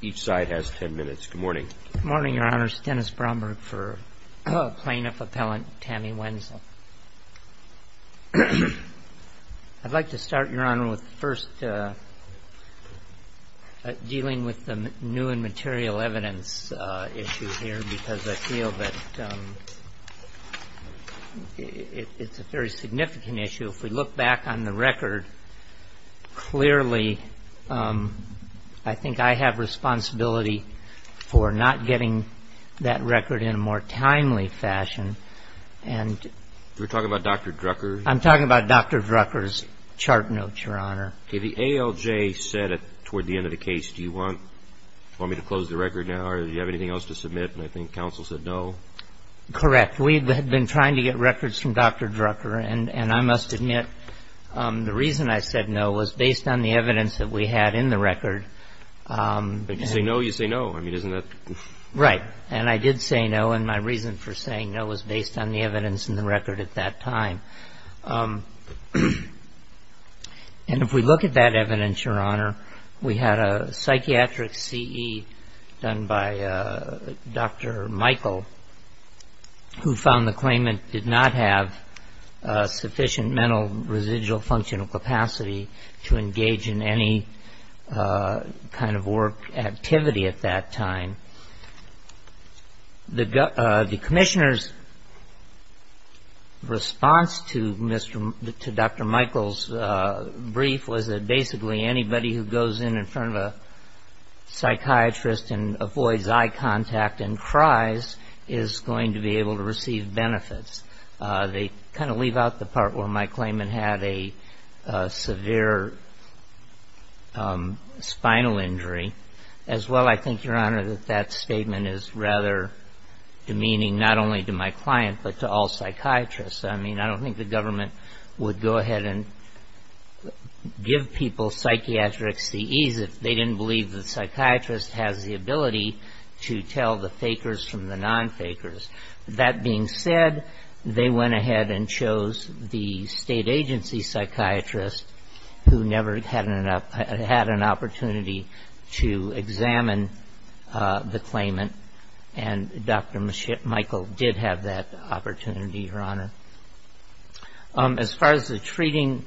Each side has ten minutes. Good morning. Good morning, Your Honors. Dennis Bromberg for Plaintiff Appellant Tammy Wenzel. I'd like to start, Your Honor, with first dealing with the new and material evidence issue here, because I feel that it's a very significant issue. If we look back on the record, clearly I think I have responsibility for not getting that record in a more timely fashion. You're talking about Dr. Drucker? I'm talking about Dr. Drucker's chart note, Your Honor. The ALJ said toward the end of the case, do you want me to close the record now or do you have anything else to submit? And I think counsel said no. Correct. We had been trying to get records from Dr. Drucker, and I must admit the reason I said no was based on the evidence that we had in the record. If you say no, you say no. I mean, isn't that? Right. And I did say no, and my reason for saying no was based on the evidence in the record at that time. And if we look at that evidence, Your Honor, we had a psychiatric CE done by Dr. Michael, who found the claimant did not have sufficient mental residual functional capacity to engage in any kind of work activity at that time. The commissioner's response to Dr. Michael's brief was that basically anybody who goes in in front of a psychiatrist and avoids eye contact and cries is going to be able to receive benefits. They kind of leave out the part where my claimant had a severe spinal injury. As well, I think, Your Honor, that that statement is rather demeaning, not only to my client but to all psychiatrists. I mean, I don't think the government would go ahead and give people psychiatrists the ease if they didn't believe the psychiatrist has the ability to tell the fakers from the non-fakers. That being said, they went ahead and chose the state agency psychiatrist who never had an opportunity to examine the claimant, and Dr. Michael did have that opportunity, Your Honor. As far as the treating,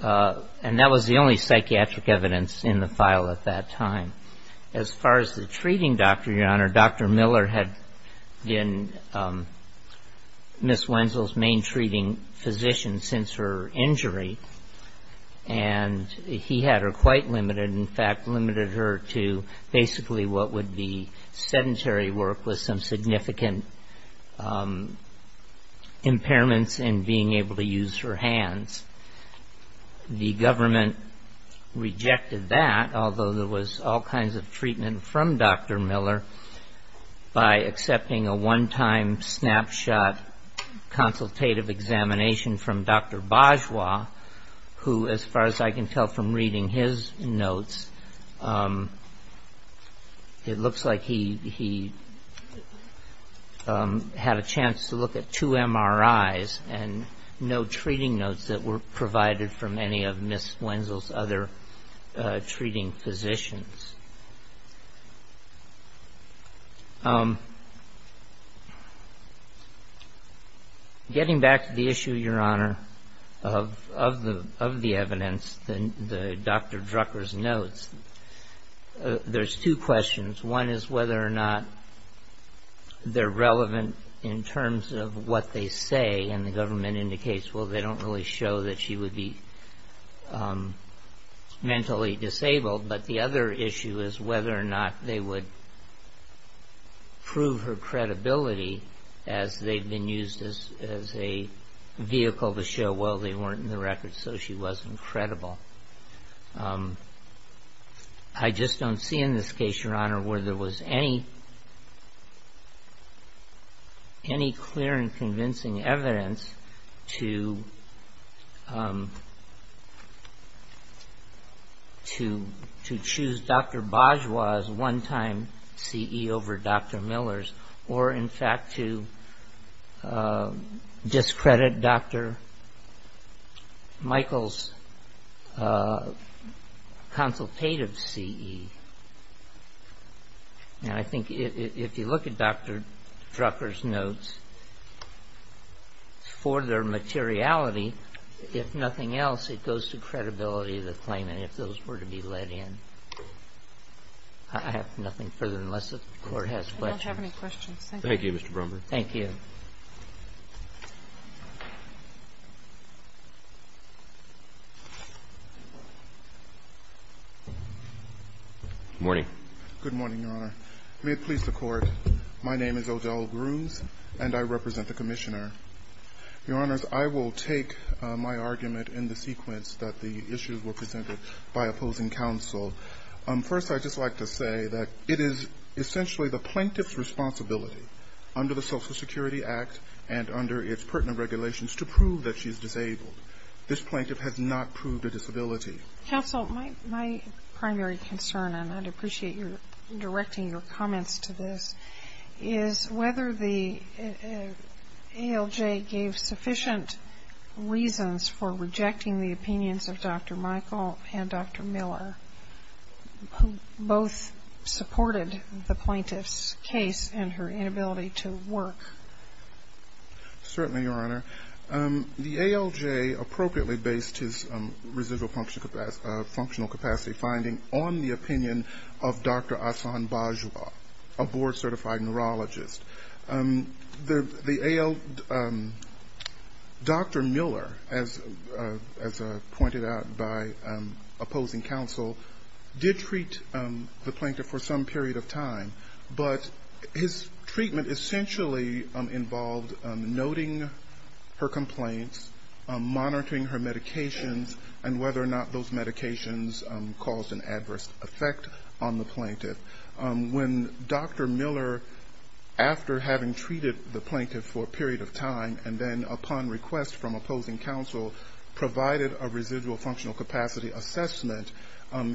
and that was the only psychiatric evidence in the file at that time, as far as the treating, Dr., Your Honor, Dr. Miller had been Ms. Wenzel's main treating physician since her injury, and he had her quite limited, in fact, limited her to basically what would be sedentary work with some significant impairments in being able to use her hands. The government rejected that, although there was all kinds of treatment from Dr. Miller, by accepting a one-time snapshot consultative examination from Dr. Bajwa, who, as far as I can tell from reading his notes, it looks like he had a chance to look at two MRIs and no treating notes that were provided from any of Ms. Wenzel's other treating physicians. Getting back to the issue, Your Honor, of the evidence, the Dr. Drucker's notes, there's two questions. One is whether or not they're relevant in terms of what they say, and the government indicates, well, they don't really show that she would be mentally disabled, but the other issue is whether or not they would prove her credibility as they've been used as a vehicle to show, well, they weren't in the records, so she wasn't credible. I just don't see in this case, Your Honor, where there was any clear and convincing evidence to choose Dr. Bajwa's one-time CE over Dr. Miller's, or, in fact, to discredit Dr. Michael's consultative CE. Now, I think if you look at Dr. Drucker's notes, for their materiality, if nothing else, it goes to credibility of the claimant if those were to be let in. I have nothing further unless the Court has questions. I don't have any questions. Thank you, Mr. Brumberg. Thank you. Good morning. Good morning, Your Honor. May it please the Court, my name is Odell Bruce, and I represent the Commissioner. Your Honors, I will take my argument in the sequence that the issues were presented by opposing counsel. First, I'd just like to say that it is essentially the plaintiff's responsibility under the Social Security Act and under its pertinent regulations to prove that she is disabled. This plaintiff has not proved a disability. Counsel, my primary concern, and I'd appreciate your directing your comments to this, is whether the ALJ gave sufficient reasons for rejecting the opinions of Dr. Michael and Dr. Miller, who both supported the plaintiff's case and her inability to work. Certainly, Your Honor. The ALJ appropriately based his residual functional capacity finding on the opinion of Dr. Ahsan Bajwa, a board-certified neurologist. The ALJ, Dr. Miller, as pointed out by opposing counsel, did treat the plaintiff for some period of time, but his treatment essentially involved noting her complaints, monitoring her medications, and whether or not those medications caused an adverse effect on the plaintiff. When Dr. Miller, after having treated the plaintiff for a period of time and then upon request from opposing counsel, provided a residual functional capacity assessment,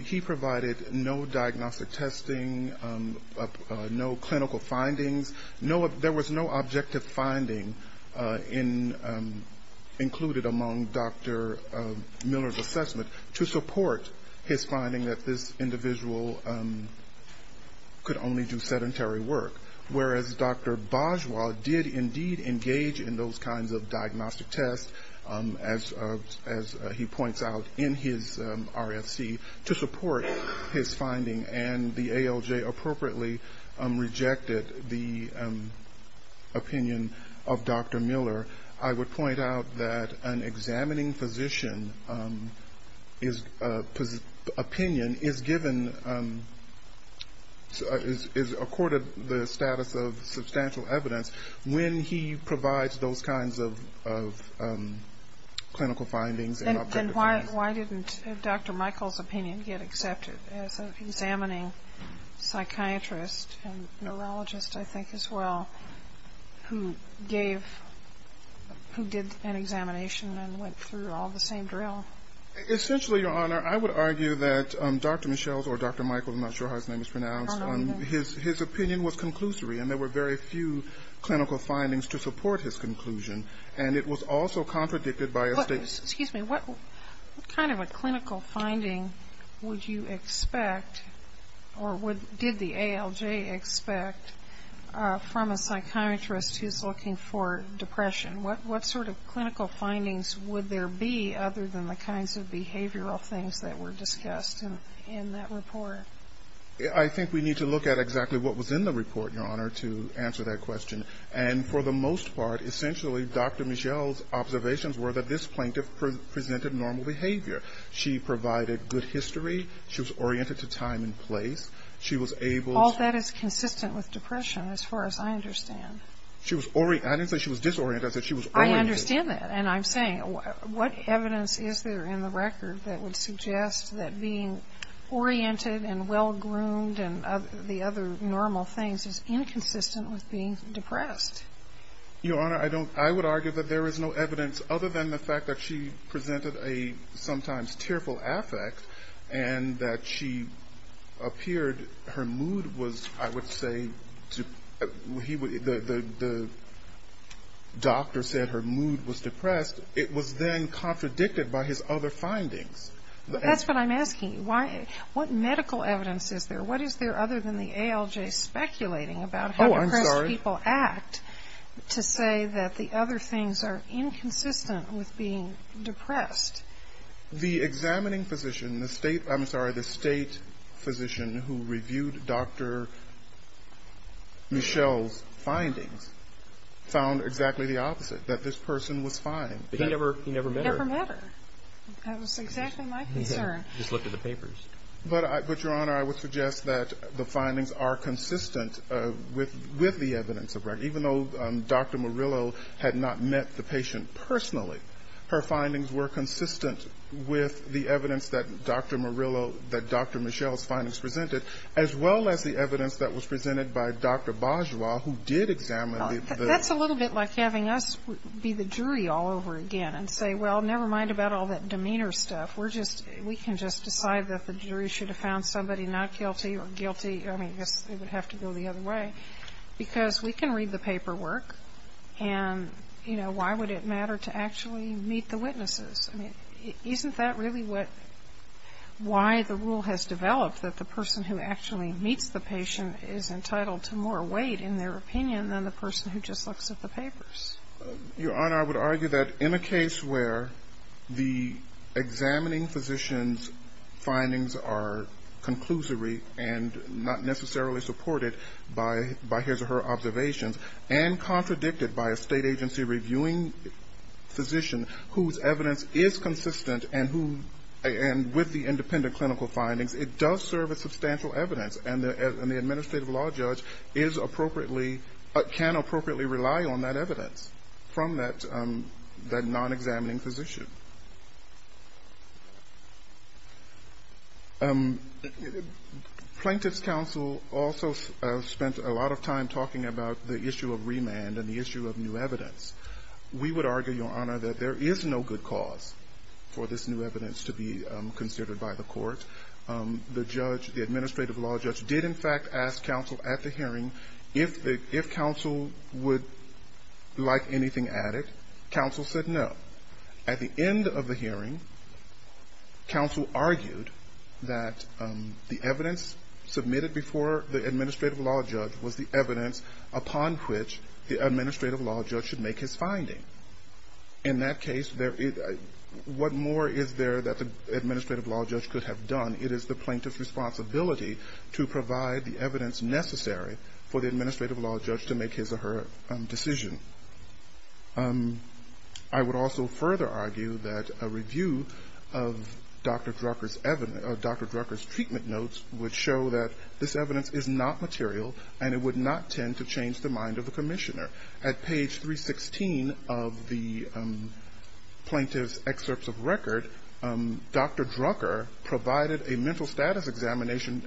he provided no diagnostic testing, no clinical findings. There was no objective finding included among Dr. Miller's assessment to support his finding that this individual could only do sedentary work, whereas Dr. Bajwa did indeed engage in those kinds of diagnostic tests, as he points out in his RFC, to support his finding. And the ALJ appropriately rejected the opinion of Dr. Miller. I would point out that an examining physician's opinion is given, is accorded the status of substantial evidence when he provides those kinds of clinical findings and objective findings. Then why didn't Dr. Michael's opinion get accepted as an examining psychiatrist and neurologist, I think, as well, who did an examination and went through all the same drill? Essentially, Your Honor, I would argue that Dr. Michelle's, or Dr. Michael, I'm not sure how his name is pronounced, his opinion was conclusory, and there were very few clinical findings to support his conclusion, and it was also contradicted by a statement. Excuse me, what kind of a clinical finding would you expect, or did the ALJ expect, from a psychiatrist who's looking for depression? What sort of clinical findings would there be other than the kinds of behavioral things that were discussed in that report? I think we need to look at exactly what was in the report, Your Honor, to answer that question. And for the most part, essentially, Dr. Michelle's observations were that this plaintiff presented normal behavior. She provided good history. She was oriented to time and place. She was able to ---- All that is consistent with depression, as far as I understand. I didn't say she was disoriented. I said she was oriented. I understand that. And I'm saying, what evidence is there in the record that would suggest that being oriented and well-groomed and the other normal things is inconsistent with being depressed? Your Honor, I don't ---- I would argue that there is no evidence other than the fact that she presented a sometimes tearful affect and that she appeared, her mood was, I would say, the doctor said her mood was depressed, it was then contradicted by his other findings. That's what I'm asking. What medical evidence is there? What is there other than the ALJ speculating about how depressed people act to say that the other things are inconsistent with being depressed? The examining physician, the state ---- I'm sorry, the state physician who reviewed Dr. Michelle's findings found exactly the opposite, that this person was fine. But he never met her. He never met her. That was exactly my concern. He just looked at the papers. But, Your Honor, I would suggest that the findings are consistent with the evidence. Even though Dr. Murillo had not met the patient personally, her findings were consistent with the evidence that Dr. Murillo, that Dr. Michelle's findings presented, as well as the evidence that was presented by Dr. Bourgeois, who did examine the ---- That's a little bit like having us be the jury all over again and say, well, never mind about all that demeanor stuff. We're just ---- we can just decide that the jury should have found somebody not guilty or guilty. I mean, I guess it would have to go the other way. Because we can read the paperwork, and, you know, why would it matter to actually meet the witnesses? I mean, isn't that really what ---- why the rule has developed that the person who actually meets the patient is entitled to more weight in their opinion than the person who just looks at the papers? Your Honor, I would argue that in a case where the examining physician's findings are conclusory and not necessarily supported by his or her observations, and contradicted by a state agency reviewing physician whose evidence is consistent and who ---- and with the independent clinical findings, it does serve as substantial evidence. And the administrative law judge is appropriately ---- can appropriately rely on that evidence from that non-examining physician. Plaintiff's counsel also spent a lot of time talking about the issue of remand and the issue of new evidence. We would argue, Your Honor, that there is no good cause for this new evidence to be considered by the court. The judge, the administrative law judge, did in fact ask counsel at the hearing if counsel would like anything added. Counsel said no. At the end of the hearing, counsel argued that the evidence submitted before the administrative law judge was the evidence upon which the administrative law judge should make his finding. In that case, what more is there that the administrative law judge could have done? It is the plaintiff's responsibility to provide the evidence necessary for the administrative law judge to make his or her decision. I would also further argue that a review of Dr. Drucker's treatment notes would show that this evidence is not material, and it would not tend to change the mind of the commissioner. At page 316 of the plaintiff's excerpts of record, Dr. Drucker provided a mental status examination,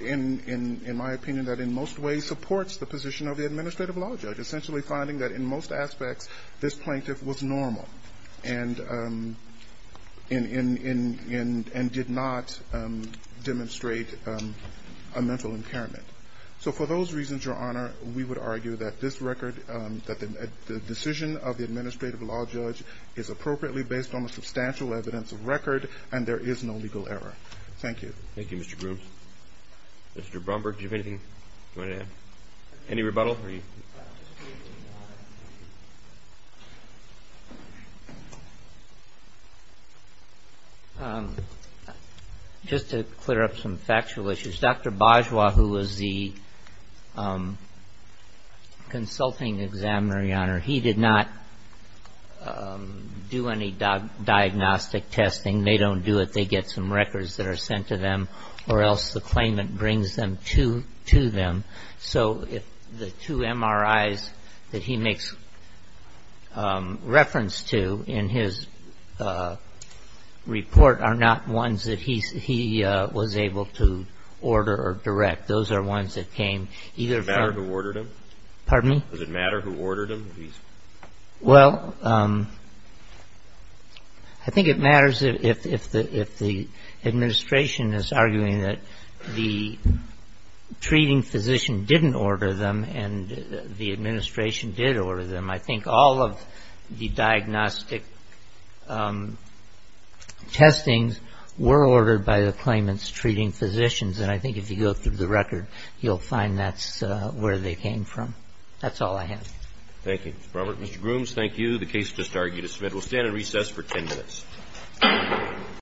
in my opinion, that in most ways supports the position of the administrative law judge, essentially finding that in most aspects this plaintiff was normal and did not demonstrate a mental impairment. So for those reasons, Your Honor, we would argue that this record, that the decision of the administrative law judge is appropriately based on the substantial evidence of record, and there is no legal error. Thank you. Thank you, Mr. Grooms. Mr. Bromberg, do you have anything you wanted to add? Any rebuttal? Just to clear up some factual issues, Dr. Bajwa, who was the consulting examiner, Your Honor, he did not do any diagnostic testing. They don't do it. They get some records that are sent to them, or else the claimant brings them to them. So the two MRIs that he makes reference to in his report are not ones that he was able to order or direct. Those are ones that came either from ---- If the administration is arguing that the treating physician didn't order them and the administration did order them, I think all of the diagnostic testings were ordered by the claimant's treating physicians, and I think if you go through the record, you'll find that's where they came from. That's all I have. Thank you, Mr. Bromberg. Mr. Grooms, thank you. The case is disbarred, Your Honor. We'll stand at recess for 10 minutes.